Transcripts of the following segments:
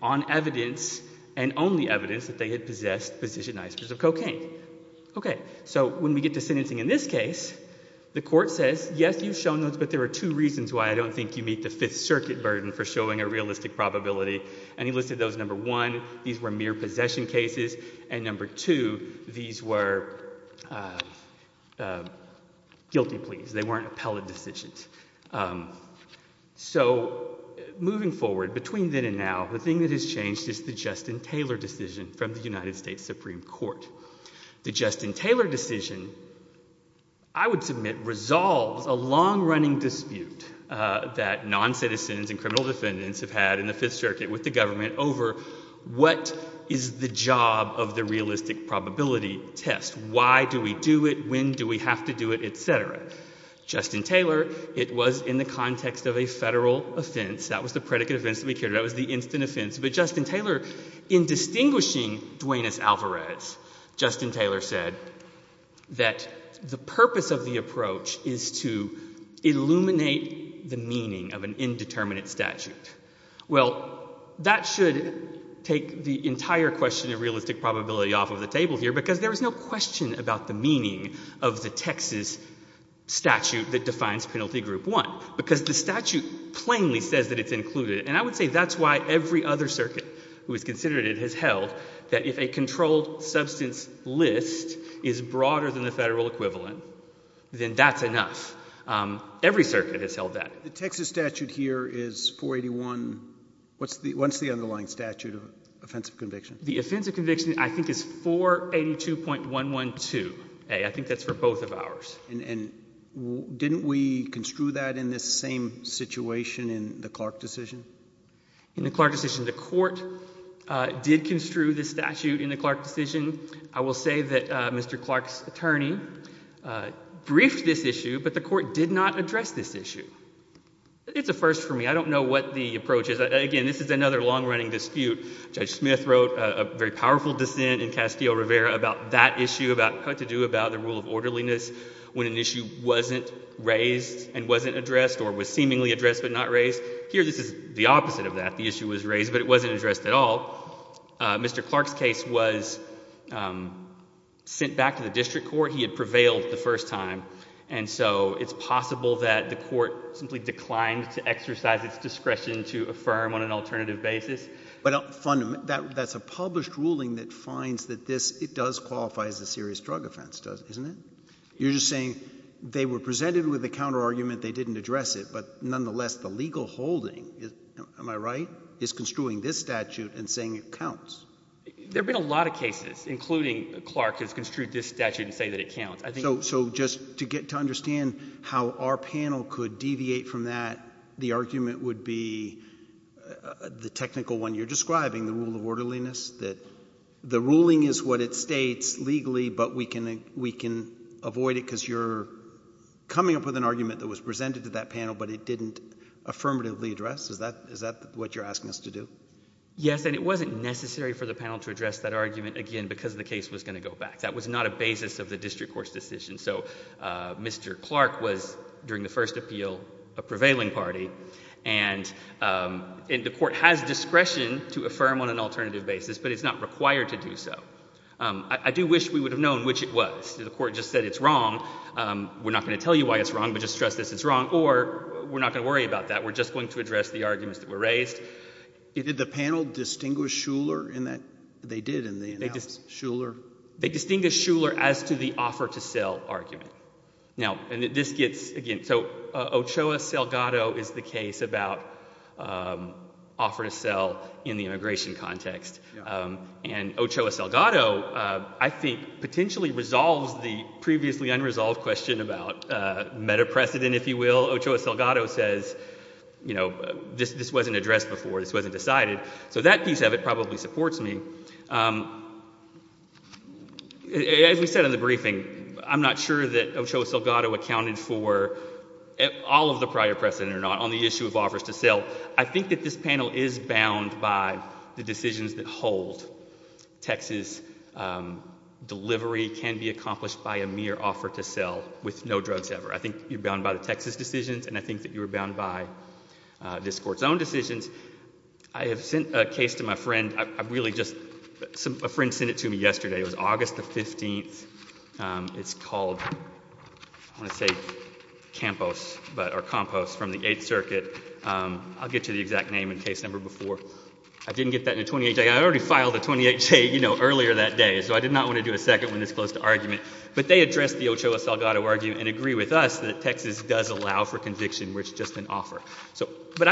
on evidence, and only evidence, that they had possessed positioned icebergs of cocaine. Okay, so when we get to sentencing in this case, the court says, yes, you've shown those, but there are two reasons why I don't think you meet the Fifth Circuit burden for showing a realistic probability. And he listed those, number one, these were mere possession cases, and number two, these were guilty pleas. They weren't appellate decisions. So, moving forward, between then and now, the thing that has changed is the Justin Taylor decision from the United States Supreme Court. The Justin Taylor decision, I would submit, resolves a long-running dispute that non-citizens and criminal defendants have had in the Fifth Circuit with the government over what is the job of the realistic probability test. Why do we do it? When do we have to do it? Et cetera. Justin Taylor, it was in the context of a federal offense. That was the predicate offense that we carried. That was the instant offense. But Justin Taylor, in distinguishing Duane S. Alvarez, Justin Taylor said that the purpose of the approach is to illuminate the meaning of an indeterminate statute. Well, that should take the entire question of realistic probability off of the table here, because there is no question about the meaning of the Texas statute that defines Penalty Group 1, because the statute plainly says that it's included. And I would say that's why every other circuit who has considered it has held that if a controlled substance list is broader than the federal equivalent, then that's enough. Every circuit has held that. The Texas statute here is 481. What's the underlying statute of offensive conviction? The offensive conviction, I think, is 482.112a. I think that's for both of ours. And didn't we construe that in this same situation in the Clark decision? In the Clark decision, the court did construe this statute in the Clark decision. I will say that Mr. Clark's attorney briefed this issue, but the court did not address this issue. It's a first for me. I don't know what the approach is. Again, this is another long-running dispute. Judge Smith wrote a very powerful dissent in Castillo-Rivera about that issue, about what to do about the rule of orderliness when an issue wasn't raised and wasn't addressed or was seemingly addressed but not raised. Here, this is the opposite of that. The issue was raised, but it wasn't addressed at all. Mr. Clark's case was sent back to the district court. He had prevailed the first time. And so it's possible that the court simply declined to exercise its discretion to affirm on an alternative basis. But fundamentally, that's a published ruling that finds that this, it does qualify as a serious drug offense, doesn't it? You're just saying they were presented with a counter-argument, they didn't address it, but nonetheless, the legal holding, am I right, is construing this statute and saying it counts? There have been a lot of cases, including Clark, has construed this statute and say that it counts. So just to get to understand how our panel could deviate from that, the argument would be the technical one you're describing, the rule of orderliness, that the ruling is what it states legally, but we can avoid it because you're coming up with an argument that was presented to that panel, but it didn't affirmatively address. Is that what you're asking us to do? Yes, and it wasn't necessary for the panel to address that argument, again, because the case was going to go back. That was not a basis of the district court's decision. So Mr. Clark was, during the first appeal, a prevailing party, and the court has discretion to affirm on an alternative basis, but it's not required to do so. I do wish we would have known which it was. The court just said it's wrong, we're not going to tell you why it's wrong, but just stress this, it's wrong, or we're not going to worry about that, we're just going to address the arguments that were raised. Did the panel distinguish Shuler in that, they did, and they announced Shuler? They distinguished Shuler as to the offer to sell argument. Now, and this gets, again, so Ochoa-Salgado is the case about offer to sell in the immigration context, and Ochoa-Salgado, I think, potentially resolves the previously unresolved question about meta precedent, if you will. Ochoa-Salgado says, you know, this wasn't addressed before, this wasn't decided, so that piece of it probably supports me. As we said in the briefing, I'm not sure that Ochoa-Salgado accounted for all of the prior precedent or not on the issue of offers to sell. I think that this panel is bound by the decisions that hold. Texas delivery can be accomplished by a mere offer to sell, with no drugs ever. I think you're bound by the Texas decisions, and I think that you're bound by decisions. I have sent a case to my friend, I've really just, a friend sent it to me yesterday, it was August the 15th, it's called, I want to say Campos, but, or Campos from the Eighth Circuit, I'll get you the exact name and case number before. I didn't get that in a 28-J, I already filed a 28-J, you know, earlier that day, so I did not want to do a second one this close to argument, but they addressed the Ochoa-Salgado argument and agree with us that Texas does allow for cocaine.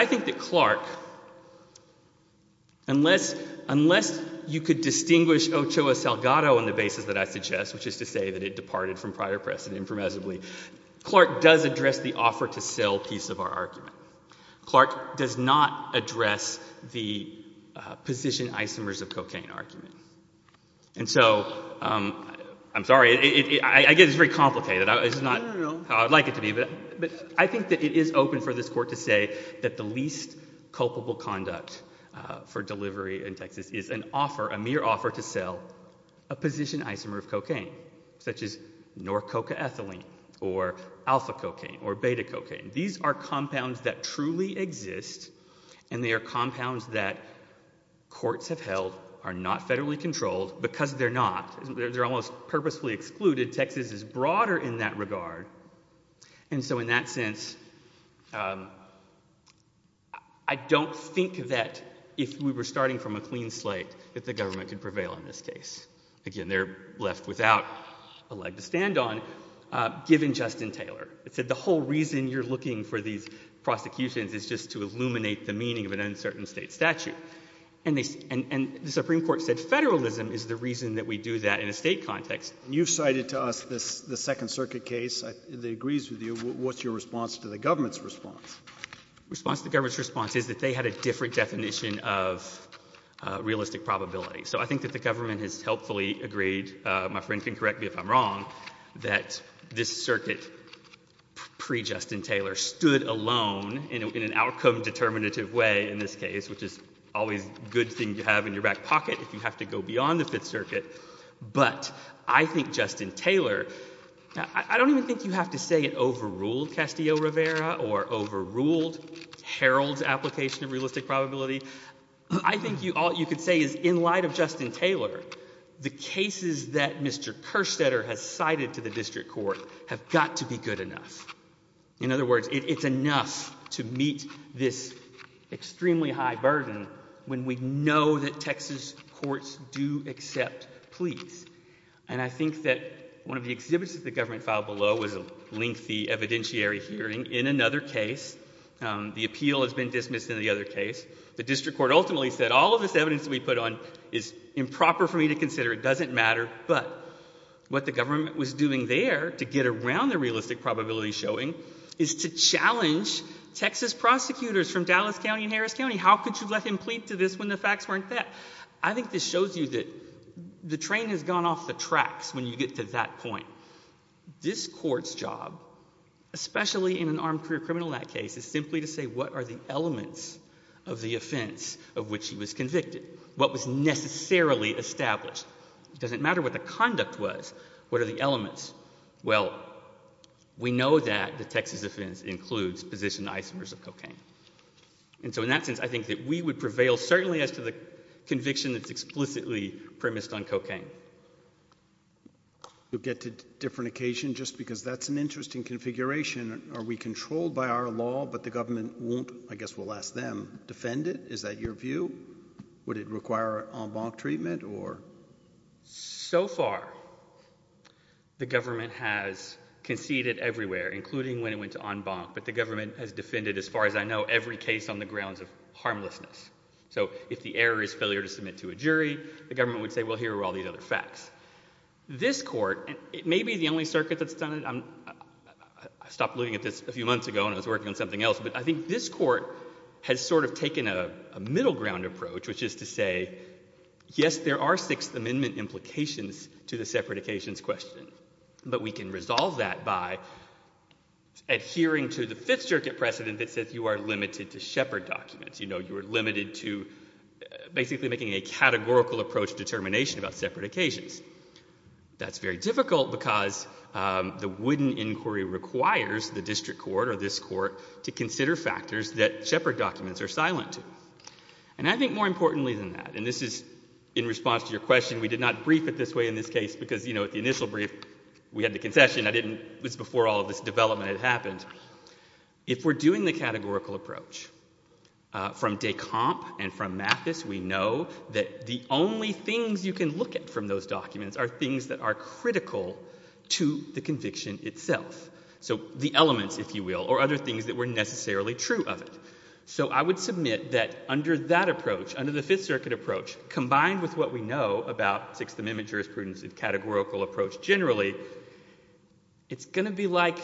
I think that Clark, unless you could distinguish Ochoa-Salgado on the basis that I suggest, which is to say that it departed from prior precedent impermissibly, Clark does address the offer to sell piece of our argument. Clark does not address the position isomers of cocaine argument. And so, I'm sorry, I get it's very complicated, it's not how I'd like it to be, but I think that it is open for this court to say that the least culpable conduct for delivery in Texas is an offer, a mere offer to sell a position isomer of cocaine, such as Norcocaethylene or alpha cocaine or beta cocaine. These are compounds that truly exist and they are compounds that courts have held, are not federally controlled, because they're not, they're almost purposefully excluded. Texas is broader in that regard. And so, in that sense, I don't think that if we were starting from a clean slate that the government could prevail in this case. Again, they're left without a leg to stand on, given Justin Taylor. It said the whole reason you're looking for these prosecutions is just to illuminate the meaning of an uncertain state statute. And the Supreme Court said federalism is the reason that we do that in a state context. You cited to us the Second Circuit case that agrees with you. What's your response to the government's response? The response to the government's response is that they had a different definition of realistic probability. So, I think that the government has helpfully agreed, my friend can correct me if I'm wrong, that this circuit pre-Justin Taylor stood alone in an outcome determinative way in this case, which is always a good thing to have in your Circuit. But I think Justin Taylor, I don't even think you have to say it overruled Castillo-Rivera or overruled Herald's application of realistic probability. I think all you could say is, in light of Justin Taylor, the cases that Mr. Kerstetter has cited to the District Court have got to be good enough. In other words, it's enough to meet this extremely high burden when we know that Texas courts do accept pleas. And I think that one of the exhibits that the government filed below was a lengthy evidentiary hearing in another case. The appeal has been dismissed in the other case. The District Court ultimately said, all of this evidence that we put on is improper for me to consider. It doesn't matter. But what the government was doing there to get around the realistic probability showing is to challenge Texas prosecutors from Dallas and Harris County. How could you let him plead to this when the facts weren't that? I think this shows you that the train has gone off the tracks when you get to that point. This Court's job, especially in an armed career criminal in that case, is simply to say, what are the elements of the offense of which he was convicted? What was necessarily established? It doesn't matter what the conduct was. What are the elements? Well, we know that the Texas offense includes position isomers of cocaine. And so in that sense, I think that we would prevail, certainly as to the conviction that's explicitly premised on cocaine. You'll get to different occasion just because that's an interesting configuration. Are we controlled by our law, but the government won't, I guess we'll ask them, defend it? Is that your view? Would it require en banc treatment? So far, the government has conceded everywhere, including when it went to en banc. But the government has defended, as far as I know, every case on the grounds of harmlessness. So if the error is failure to submit to a jury, the government would say, well, here are all these other facts. This Court, and it may be the only circuit that's done it. I stopped looking at this a few months ago, and I was working on something else. But I think this Court has sort of taken a middle ground approach, which is to say, yes, there are Sixth Amendment implications to the separate occasions question. But we can resolve that by adhering to the Fifth Circuit precedent that says you are limited to shepherd documents. You know, you are limited to basically making a categorical approach determination about separate occasions. That's very difficult because the wooden inquiry requires the District Court or this Court to consider factors that shepherd documents are silent to. And I think more importantly than that, and this is in response to your question, we did not brief it this way in this case because, you know, at the initial brief we had the concession. I didn't, it was before all of this development had happened. If we're doing the categorical approach, from Descamp and from Mathis, we know that the only things you can look at from those documents are things that are critical to the conviction itself. So the elements, if you will, or other things that were necessarily true of it. So I would submit that under that approach, under the Fifth Circuit approach, combined with what we know about Sixth Amendment jurisprudence and categorical approach generally, it's going to be like,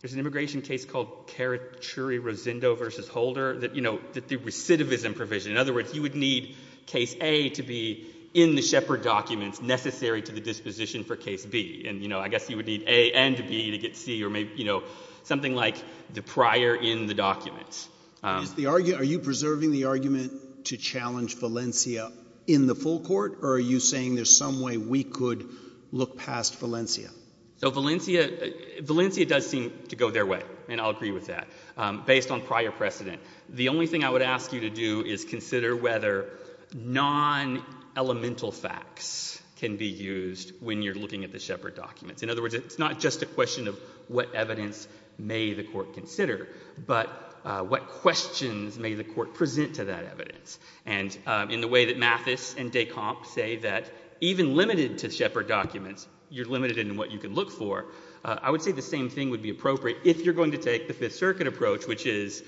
there's an immigration case called Carachuri-Rosendo v. Holder that, you know, the recidivism provision. In other words, you would need case A to be in the shepherd documents necessary to the disposition for case B. And, you know, I guess you would need A and B to get C or maybe, you know, something like the prior in the documents. Is the argument, are you preserving the argument to challenge Valencia in the full court, or are you saying there's some way we could look past Valencia? So Valencia, Valencia does seem to go their way, and I'll agree with that, based on prior precedent. The only thing I would ask you to do is consider whether non-elemental facts can be used when you're looking at the shepherd documents. In other words, it's not just a question of what evidence may the court consider, but what questions may the court present to that evidence. And in the way that Mathis and Decomp say that even limited to shepherd documents, you're limited in what you can look for, I would say the same thing would be appropriate if you're going to take the Fifth Circuit approach, which is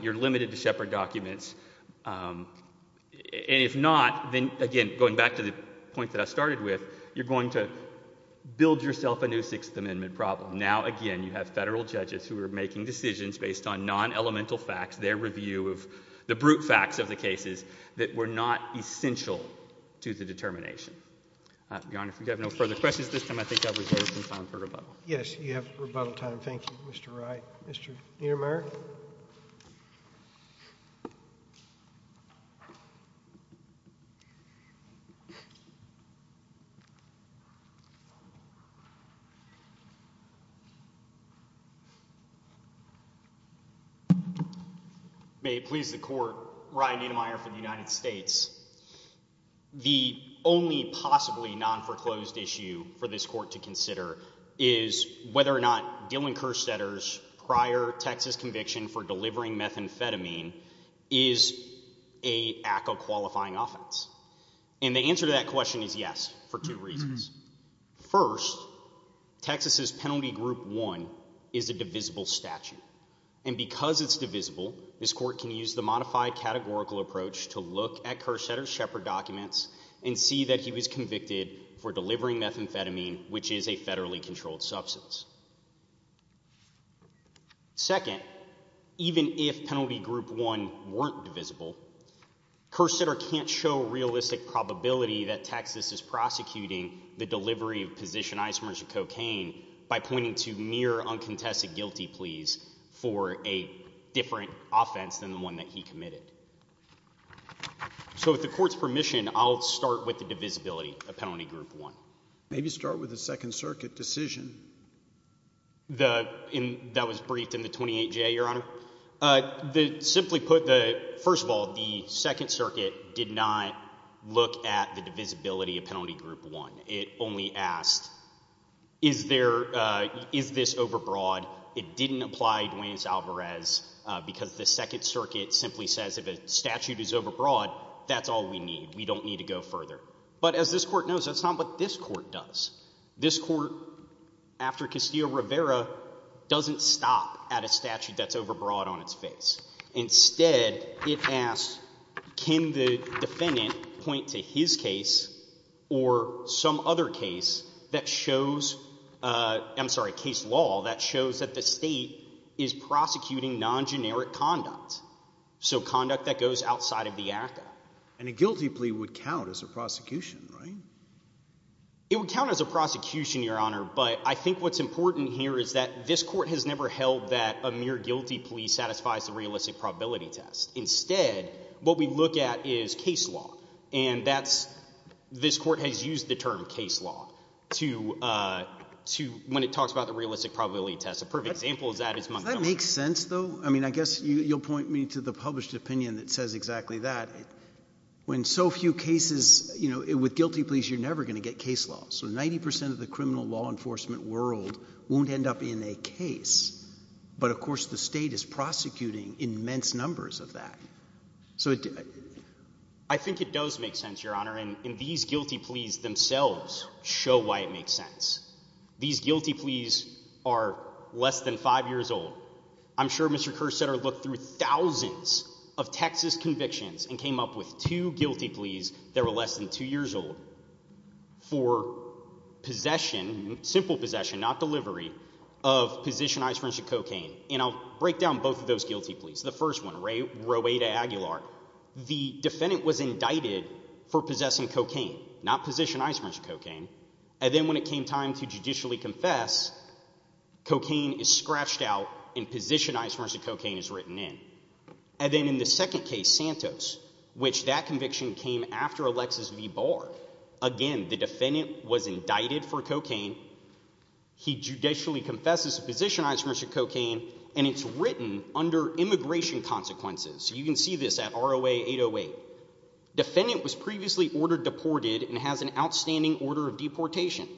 you're limited to shepherd documents. And if not, then again, going back to the point that I started with, you're going to build yourself a new Sixth Amendment problem. Now again, you have federal judges who are making decisions based on non-elemental facts, their review of the brute facts of the cases that were not essential to the determination. Your Honor, if we have no further questions at this time, I think I'll reserve some time for rebuttal. May it please the court, Ryan Niedermeyer for the United States. The only possibly non-foreclosed issue for this court to consider is whether or not Dylan Kerstetter's prior Texas conviction for delivering methamphetamine is a ACA qualifying offense. And the answer to that question is yes, for two reasons. First, Texas's Penalty Group 1 is a divisible statute. And because it's divisible, this court can use the modified categorical approach to look at Kerstetter's shepherd documents and see that he was convicted for delivering methamphetamine, which is a federally controlled substance. Second, even if Penalty Group 1 weren't divisible, Kerstetter can't show realistic probability that Texas is prosecuting the delivery of positionizers of cocaine by pointing to mere uncontested guilty pleas for a different offense than the one that he committed. So with the court's permission, I'll start with the divisibility of Penalty Group 1. Maybe start with the Second Circuit decision. That was briefed in the 28J, Your Honor. Simply put, first of all, the Second Circuit did not look at the divisibility of Penalty Group 1. It only asked, is this overbroad? It didn't apply Duane's Alvarez because the Second Circuit simply says if a statute is overbroad, that's all we need. We don't need to go further. But as this court knows, that's not what this court does. This court, after Castillo-Rivera, doesn't stop at a statute that's defendant point to his case or some other case that shows, I'm sorry, case law that shows that the state is prosecuting non-generic conduct. So conduct that goes outside of the ACCA. And a guilty plea would count as a prosecution, right? It would count as a prosecution, Your Honor. But I think what's important here is that this court has never held that a mere guilty plea satisfies the realistic probability test. Instead, what we look at is case law. And this court has used the term case law when it talks about the realistic probability test. A perfect example of that is Montgomery. Does that make sense, though? I mean, I guess you'll point me to the published opinion that says exactly that. With guilty pleas, you're never going to get case law. So 90% of the criminal law enforcement world won't end up in a case. But of course, the state is prosecuting immense numbers of that. So I think it does make sense, Your Honor. And these guilty pleas themselves show why it makes sense. These guilty pleas are less than five years old. I'm sure Mr. Kersetter looked through thousands of Texas convictions and came up with two guilty pleas that were less than two years old for possession, simple possession, not delivery, of positioned isomers of cocaine. And I'll break down both of those guilty pleas. The first one, Roweta Aguilar. The defendant was indicted for possessing cocaine, not positioned isomers of cocaine. And then when it came time to judicially confess, cocaine is scratched out and positioned isomers of cocaine is written in. And then in the second case, Santos, which that conviction came after Alexis V. Barr. Again, the defendant was indicted for cocaine. He judicially confesses to position isomers of cocaine. And it's written under immigration consequences. You can see this at ROA 808. Defendant was previously ordered deported and has an outstanding order of deportation.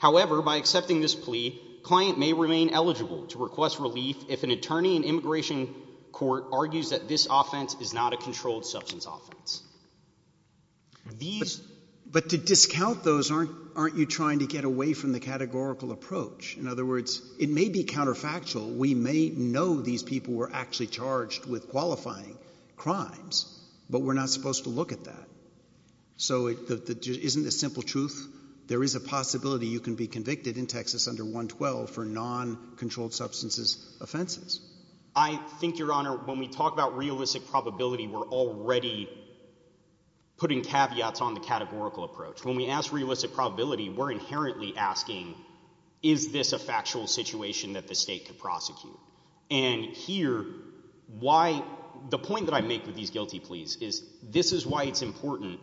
However, by accepting this plea, client may remain eligible to request relief if an attorney in immigration court argues that this offense is not a controlled substance offense. But to discount those, aren't you trying to get away from the categorical approach? In other words, it may be counterfactual. We may know these people were actually charged with qualifying crimes, but we're not supposed to look at that. So it isn't a simple truth. There is a possibility you can be convicted in Texas under 112 for non-controlled substances offenses. I think, Your Honor, when we talk about realistic probability, we're already putting caveats on the categorical approach. When we ask realistic probability, we're inherently asking, is this a factual situation that the state could prosecute? And here, why the point that I make with these guilty pleas is this is why it's important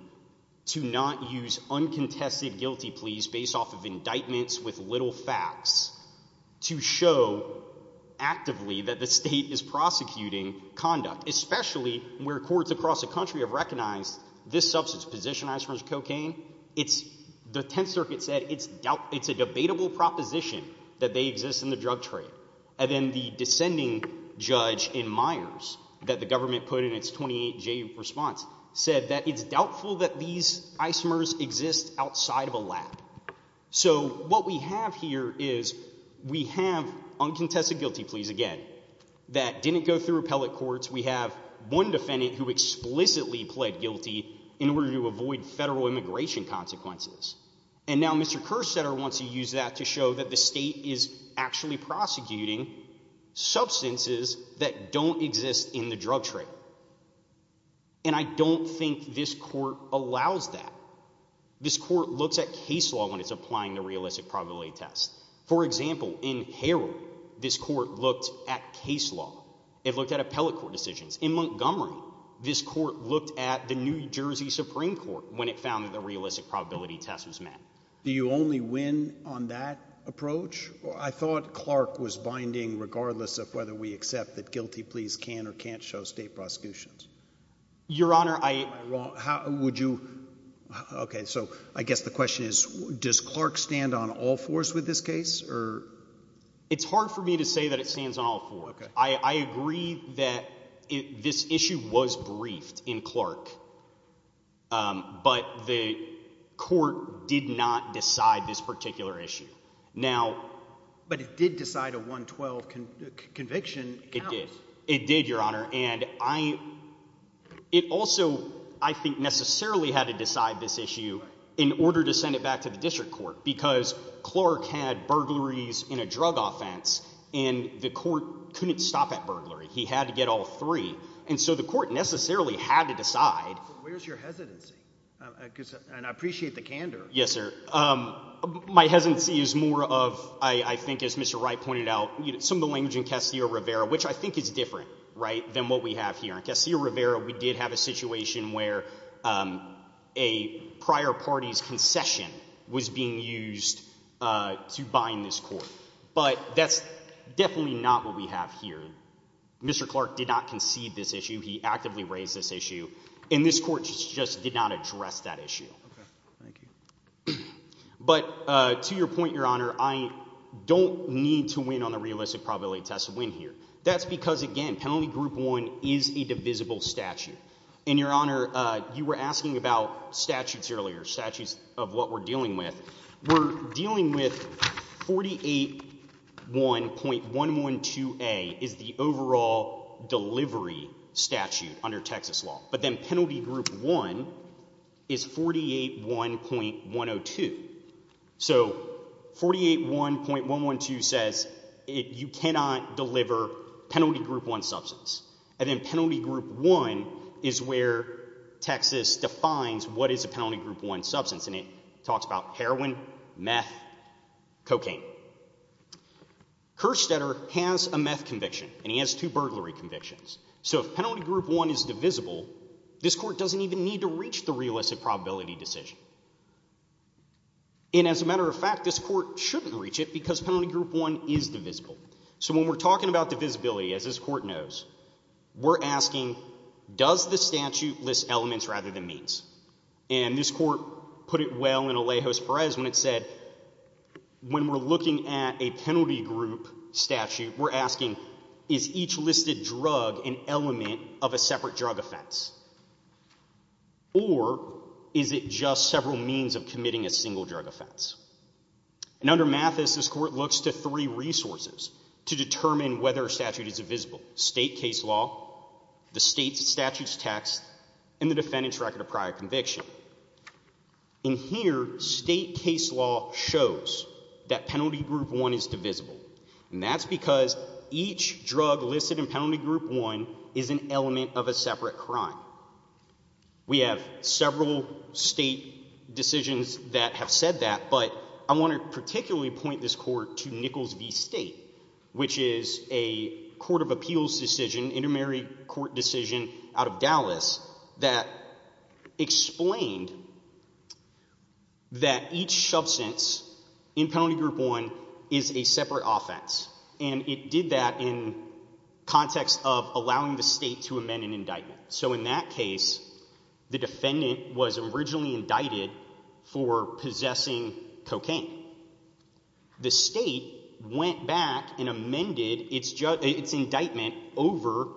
to not use uncontested guilty pleas based off of indictments with little facts to show actively that the state is prosecuting conduct, especially where courts across the country have recognized this substance, position isomers of cocaine. The Tenth Circuit said it's a debatable proposition that they exist in the drug trade. And then the descending judge in Myers that the government put in its 28-J response said that it's doubtful that these isomers exist outside of a lab. So what we have here is we have uncontested guilty pleas again that didn't go through appellate courts. We have one defendant who explicitly pled guilty in order to avoid federal immigration consequences. And now Mr. Kerstetter wants to use that to show that the state is actually prosecuting substances that don't exist in the drug trade. And I don't think this court allows that. This court looks at case law when it's applying the realistic probability test. For example, in Harold, this court looked at case law. It looked at appellate court decisions. In Montgomery, this court looked at the New Jersey Supreme Court when it found that the realistic probability test was met. Do you only win on that approach? I thought Clark was binding regardless of whether we accept that guilty pleas can or can't show state prosecutions. Your Honor, I... Okay, so I guess the question is, does Clark stand on all fours with this case? It's hard for me to say that it stands on all fours. I agree that this issue was briefed in Clark, um, but the court did not decide this particular issue. Now... But it did decide a 112 conviction. It did. It did, Your Honor. And I... It also, I think, necessarily had to decide this issue in order to send it back to the district court because Clark had burglaries in a drug offense and the court couldn't stop at burglary. He had to get all three. And so the court necessarily had to decide... Where's your hesitancy? And I appreciate the candor. Yes, sir. My hesitancy is more of, I think, as Mr. Wright pointed out, some of the language in Castillo-Rivera, which I think is different, right, than what we have here. In Castillo-Rivera, we did have a situation where a prior party's concession was being used to bind this court. But that's definitely not what we have here. Mr. Clark did not concede this issue. He actively raised this issue. And this court just did not address that issue. Okay. Thank you. But, uh, to your point, Your Honor, I don't need to win on the realistic probability test to win here. That's because, again, Penalty Group 1 is a divisible statute. And, Your Honor, you were asking about statutes earlier, statutes of what we're dealing with. We're dealing with 48-1.112a is the overall delivery statute under Texas law. But then Penalty Group 1 is 48-1.102. So 48-1.112 says you cannot deliver Penalty Group 1 substance. And then Penalty Group 1 is where Texas defines what is a Penalty Group 1 substance. And it talks about heroin, meth, cocaine. Kerstetter has a meth conviction. And he has two burglary convictions. So if Penalty Group 1 is divisible, this court doesn't even need to reach the realistic probability decision. And as a matter of fact, this court shouldn't reach it because Penalty Group 1 is divisible. So when we're talking about divisibility, as this court knows, we're asking does the statute list elements rather than means? And this court put it well in Alejos Perez when it said, when we're looking at a penalty group statute, we're asking is each listed drug an element of a separate drug offense? Or is it just several means of committing a single drug offense? And under Mathis, this court looks to three resources to determine whether a statute is state case law, the state statute's text, and the defendant's record of prior conviction. In here, state case law shows that Penalty Group 1 is divisible. And that's because each drug listed in Penalty Group 1 is an element of a separate crime. We have several state decisions that have said that. But I want to particularly point this court to Nichols v. State, which is a court of appeals decision, intermarried court decision out of Dallas that explained that each substance in Penalty Group 1 is a separate offense. And it did that in context of allowing the state to amend an indictment. So in that case, the defendant was originally indicted for possessing cocaine. The state went back and amended its indictment over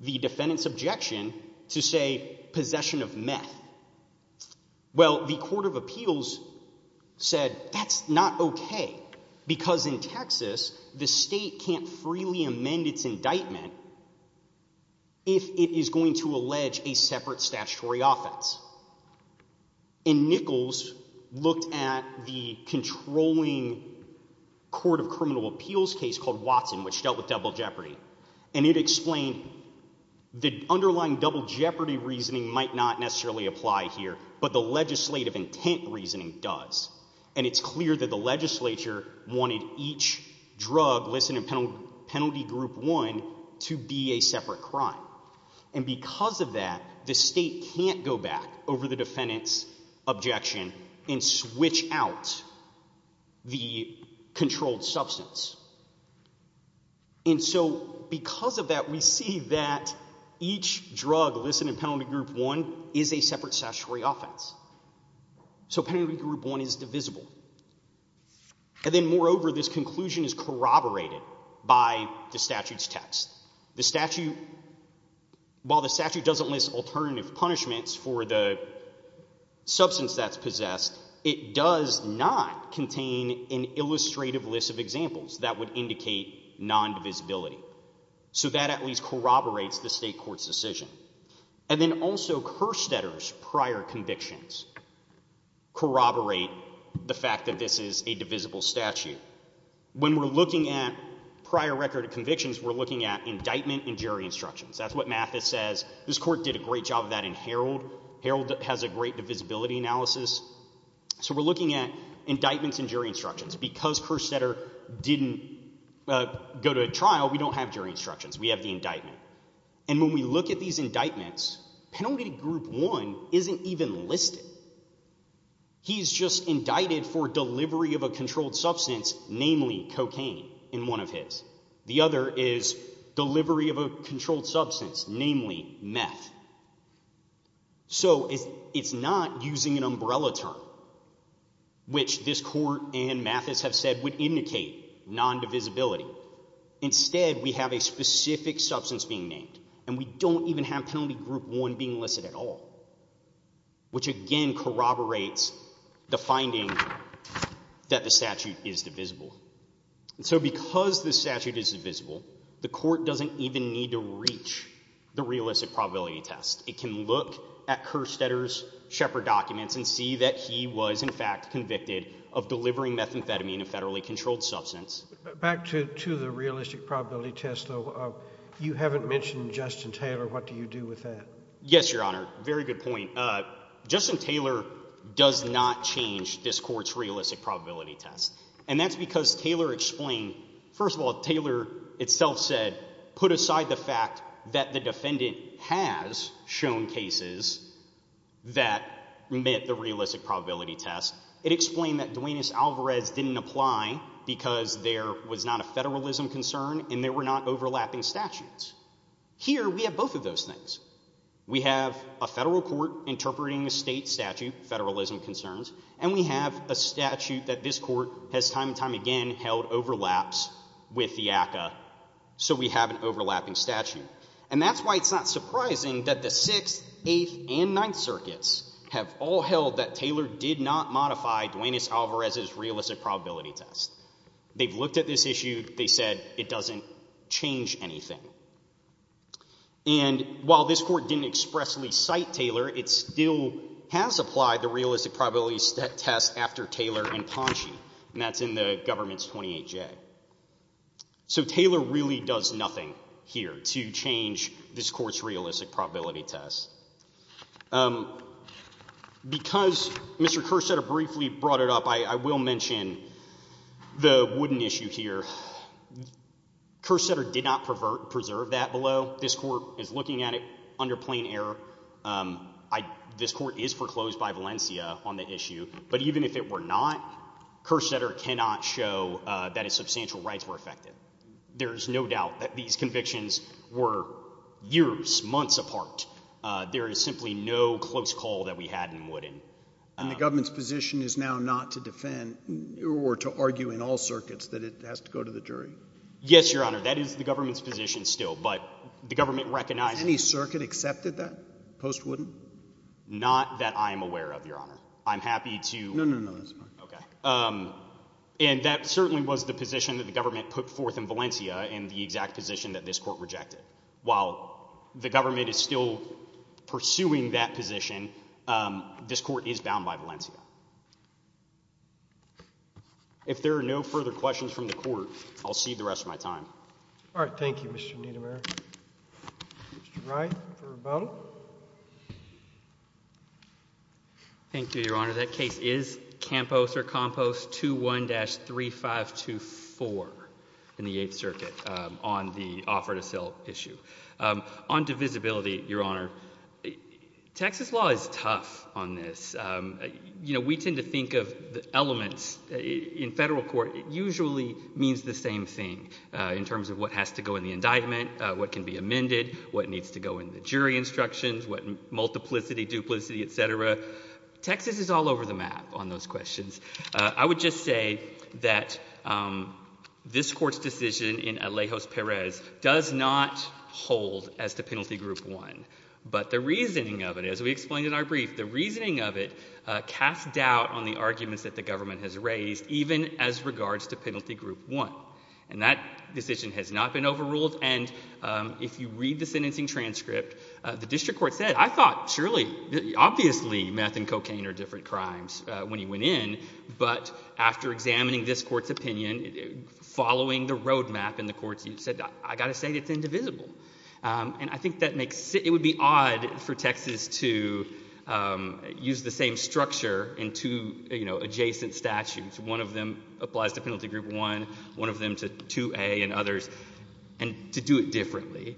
the defendant's objection to, say, possession of meth. Well, the court of appeals said, that's not OK. Because in Texas, the state can't freely amend its indictment if it is going to allege a separate statutory offense. And Nichols looked at the controlling court of criminal appeals case called Watson, which dealt with double jeopardy. And it explained the underlying double jeopardy reasoning might not necessarily apply here. But the legislative intent reasoning does. And it's clear that the Penalty Group 1 to be a separate crime. And because of that, the state can't go back over the defendant's objection and switch out the controlled substance. And so because of that, we see that each drug listed in Penalty Group 1 is a separate statutory offense. So Penalty Group 1 is divisible. And then moreover, this conclusion is corroborated by the statute's text. The statute, while the statute doesn't list alternative punishments for the substance that's possessed, it does not contain an illustrative list of examples that would indicate non-divisibility. So that at least corroborates the state court's decision. And then also, Kerstetter's prior convictions corroborate the fact that this is a divisible statute. When we're looking at prior record of convictions, we're looking at indictment and jury instructions. That's what Mathis says. This court did a great job of that in Herald. Herald has a great divisibility analysis. So we're looking at indictments and jury instructions. Because Kerstetter didn't go to trial, we don't have jury instructions. We have the indictment. And when we look at these indictments, Penalty Group 1 isn't even listed. He's just indicted for delivery of a controlled substance, namely cocaine, in one of his. The other is delivery of a controlled substance, namely meth. So it's not using an umbrella term, which this court and Mathis have said would indicate non-divisibility. Instead, we have a specific substance being named. And we don't even have Penalty Group 1 being listed at all, which again corroborates the that the statute is divisible. And so because the statute is divisible, the court doesn't even need to reach the realistic probability test. It can look at Kerstetter's Shepard documents and see that he was, in fact, convicted of delivering methamphetamine, a federally controlled substance. Back to the realistic probability test, though. You haven't mentioned Justin Taylor. What do you do with that? Yes, Your Honor. Very good point. Justin Taylor does not change this court's realistic probability test. And that's because Taylor explained... First of all, Taylor itself said, put aside the fact that the defendant has shown cases that met the realistic probability test. It explained that Duenas-Alvarez didn't apply because there was not a federalism concern and there were not overlapping statutes. Here, we have both of those things. We have a federal court interpreting a state statute, federalism concerns, and we have a statute that this court has time and time again held overlaps with the ACCA. So we have an overlapping statute. And that's why it's not surprising that the 6th, 8th, and 9th circuits have all held that Taylor did not modify Duenas-Alvarez's realistic probability test. They've looked at this issue. They said it doesn't change anything. And while this court didn't expressly cite Taylor, it still has applied the realistic probability test after Taylor and Ponchi, and that's in the government's 28J. So Taylor really does nothing here to change this court's realistic probability test. Because Mr. Kerstetter briefly brought it up, I will mention the wooden issue here. Kerstetter did not preserve that below. This court is looking at it under plain error. This court is foreclosed by Valencia on the issue. But even if it were not, Kerstetter cannot show that his substantial rights were affected. There's no doubt that these convictions were years, months apart. There is simply no close call that we had in Wooden. And the government's position is now not to defend or to argue in all circuits that it has to go to the jury? Yes, Your Honor. That is the government's position still. But the government recognizes— Any circuit accepted that post-Wooden? Not that I am aware of, Your Honor. I'm happy to— No, no, no. That's fine. Okay. And that certainly was the position that the government put forth in Valencia in the exact position that this court rejected. While the government is still pursuing that position, this court is bound by Valencia. If there are no further questions from the court, I'll cede the rest of my time. All right. Thank you, Mr. Niedermayer. Mr. Wright for rebuttal. Thank you, Your Honor. That case is Campos or Compos 2-1-3524 in the Eighth Circuit on the offer to sell issue. On divisibility, Your Honor, Texas law is tough on this. You know, we tend to think of the elements— In federal court, it usually means the same thing in terms of what has to go in the indictment, what can be amended, what needs to go in the jury instructions, what multiplicity, duplicity, et cetera. Texas is all over the map on those questions. I would just say that this Court's decision in Alejos-Perez does not hold as to Penalty Group 1. But the reasoning of it, as we explained in our brief, the reasoning of it casts doubt on the arguments that the government has raised, even as regards to Penalty Group 1. And that decision has not been overruled. And if you read the sentencing transcript, the district court said, I thought, surely, obviously meth and cocaine are different crimes when he went in. But after examining this Court's opinion, following the road map in the courts, he said, I got to say it's indivisible. And I think that makes—it would be odd for Texas to use the same structure in two, you know, adjacent statutes. One of them applies to Penalty Group 1, one of them to 2A and others, and to do it differently.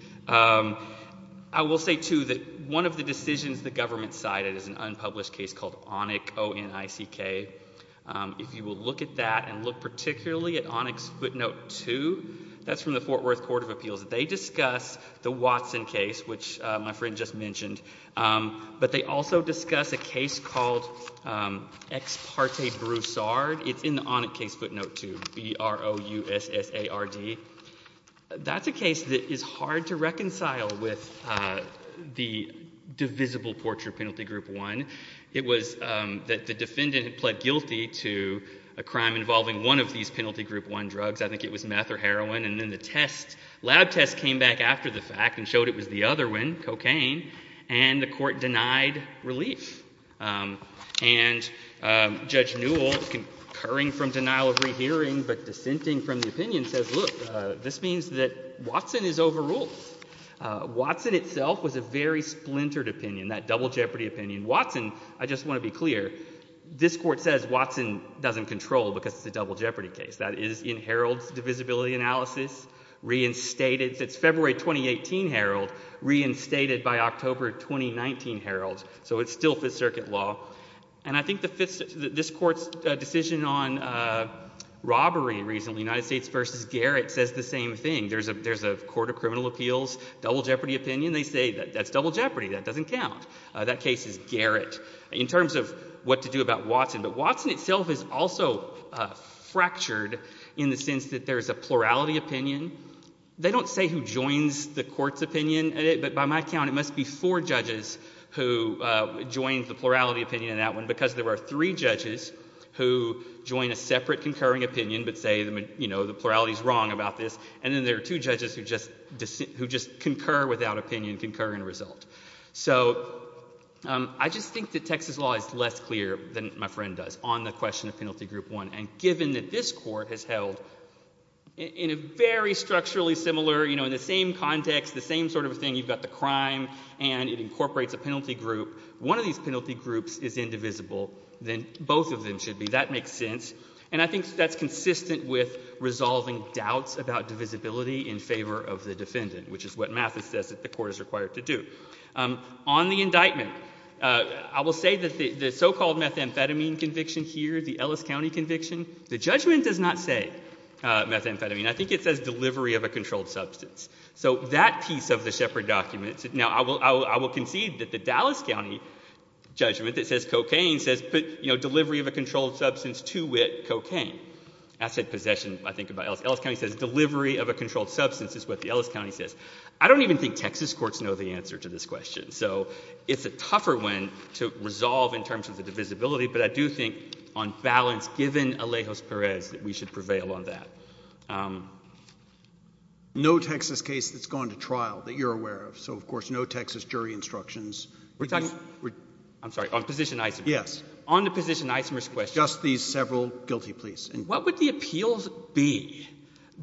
I will say, too, that one of the decisions the government cited is an unpublished case called Onik, O-N-I-C-K. If you will look at that and look particularly at Onik's footnote 2, that's from the Fort Worth Court of Appeals. They discuss the Watson case, which my friend just mentioned. But they also discuss a case called Ex Parte Broussard. It's in the Onik case footnote 2, B-R-O-U-S-S-A-R-D. That's a case that is hard to reconcile with the divisible portrait of Penalty Group 1. It was that the defendant pled guilty to a crime involving one of these Penalty Group 1 drugs. I think it was meth or heroin. And then the test, lab test, came back after the fact and the court denied relief. And Judge Newell, concurring from denial of rehearing but dissenting from the opinion, says, look, this means that Watson is overruled. Watson itself was a very splintered opinion, that double jeopardy opinion. Watson, I just want to be clear, this court says Watson doesn't control because it's a double jeopardy case. That is in Harold's divisibility analysis, reinstated. It's February 2018, Harold, reinstated by October 2019, Harold. So it's still Fifth Circuit law. And I think this court's decision on robbery recently, United States v. Garrett, says the same thing. There's a court of criminal appeals, double jeopardy opinion. They say that's double jeopardy. That doesn't count. That case is Garrett. In terms of what to do about Watson. But Watson itself is also fractured in the sense that there's a plurality opinion. They don't say who joins the court's opinion. But by my count, it must be four judges who joined the plurality opinion in that one, because there were three judges who join a separate concurring opinion but say, you know, the plurality is wrong about this. And then there are two judges who just concur without opinion, concur in result. So I just think that Texas law is less clear than my friend does on the court of criminal appeals. And I think that's consistent with resolving doubts about divisibility in favor of the defendant, which is what Mathis says that the court is required to do. On the indictment, I will say that the so-called methamphetamine conviction here, the Ellis County conviction, the judgment does not say methamphetamine. I think it says delivery of a controlled substance. So that piece of the Shepard documents, now, I will concede that the Dallas County judgment that says cocaine says put, you know, delivery of a controlled substance to wit cocaine. Asset possession, I think, about Ellis. Ellis County says delivery of a controlled substance is what the Ellis County says. I don't even think Texas courts know the answer to this question. So it's a tougher one to resolve in terms of the divisibility. But I do think on balance, given Alejo's Perez, that we should prevail on that. No Texas case that's gone to trial that you're aware of. So, of course, no Texas jury instructions. I'm sorry. On position Isamer. Yes. On the position Isamer's question. Just these several guilty pleas. What would the appeals be?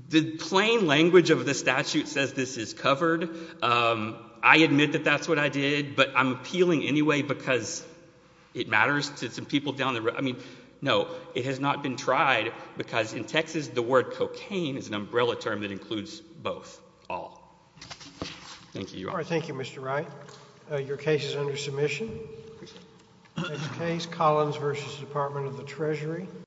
The plain language of the statute says this is covered. Um, I admit that that's what I did, but I'm appealing anyway, because it matters to some people down the road. I mean, no, it has not been tried because in Texas, the word cocaine is an umbrella term that includes both all. Thank you. All right. Thank you, Mr Wright. Your case is under submission. Case Collins versus Department of the Treasury.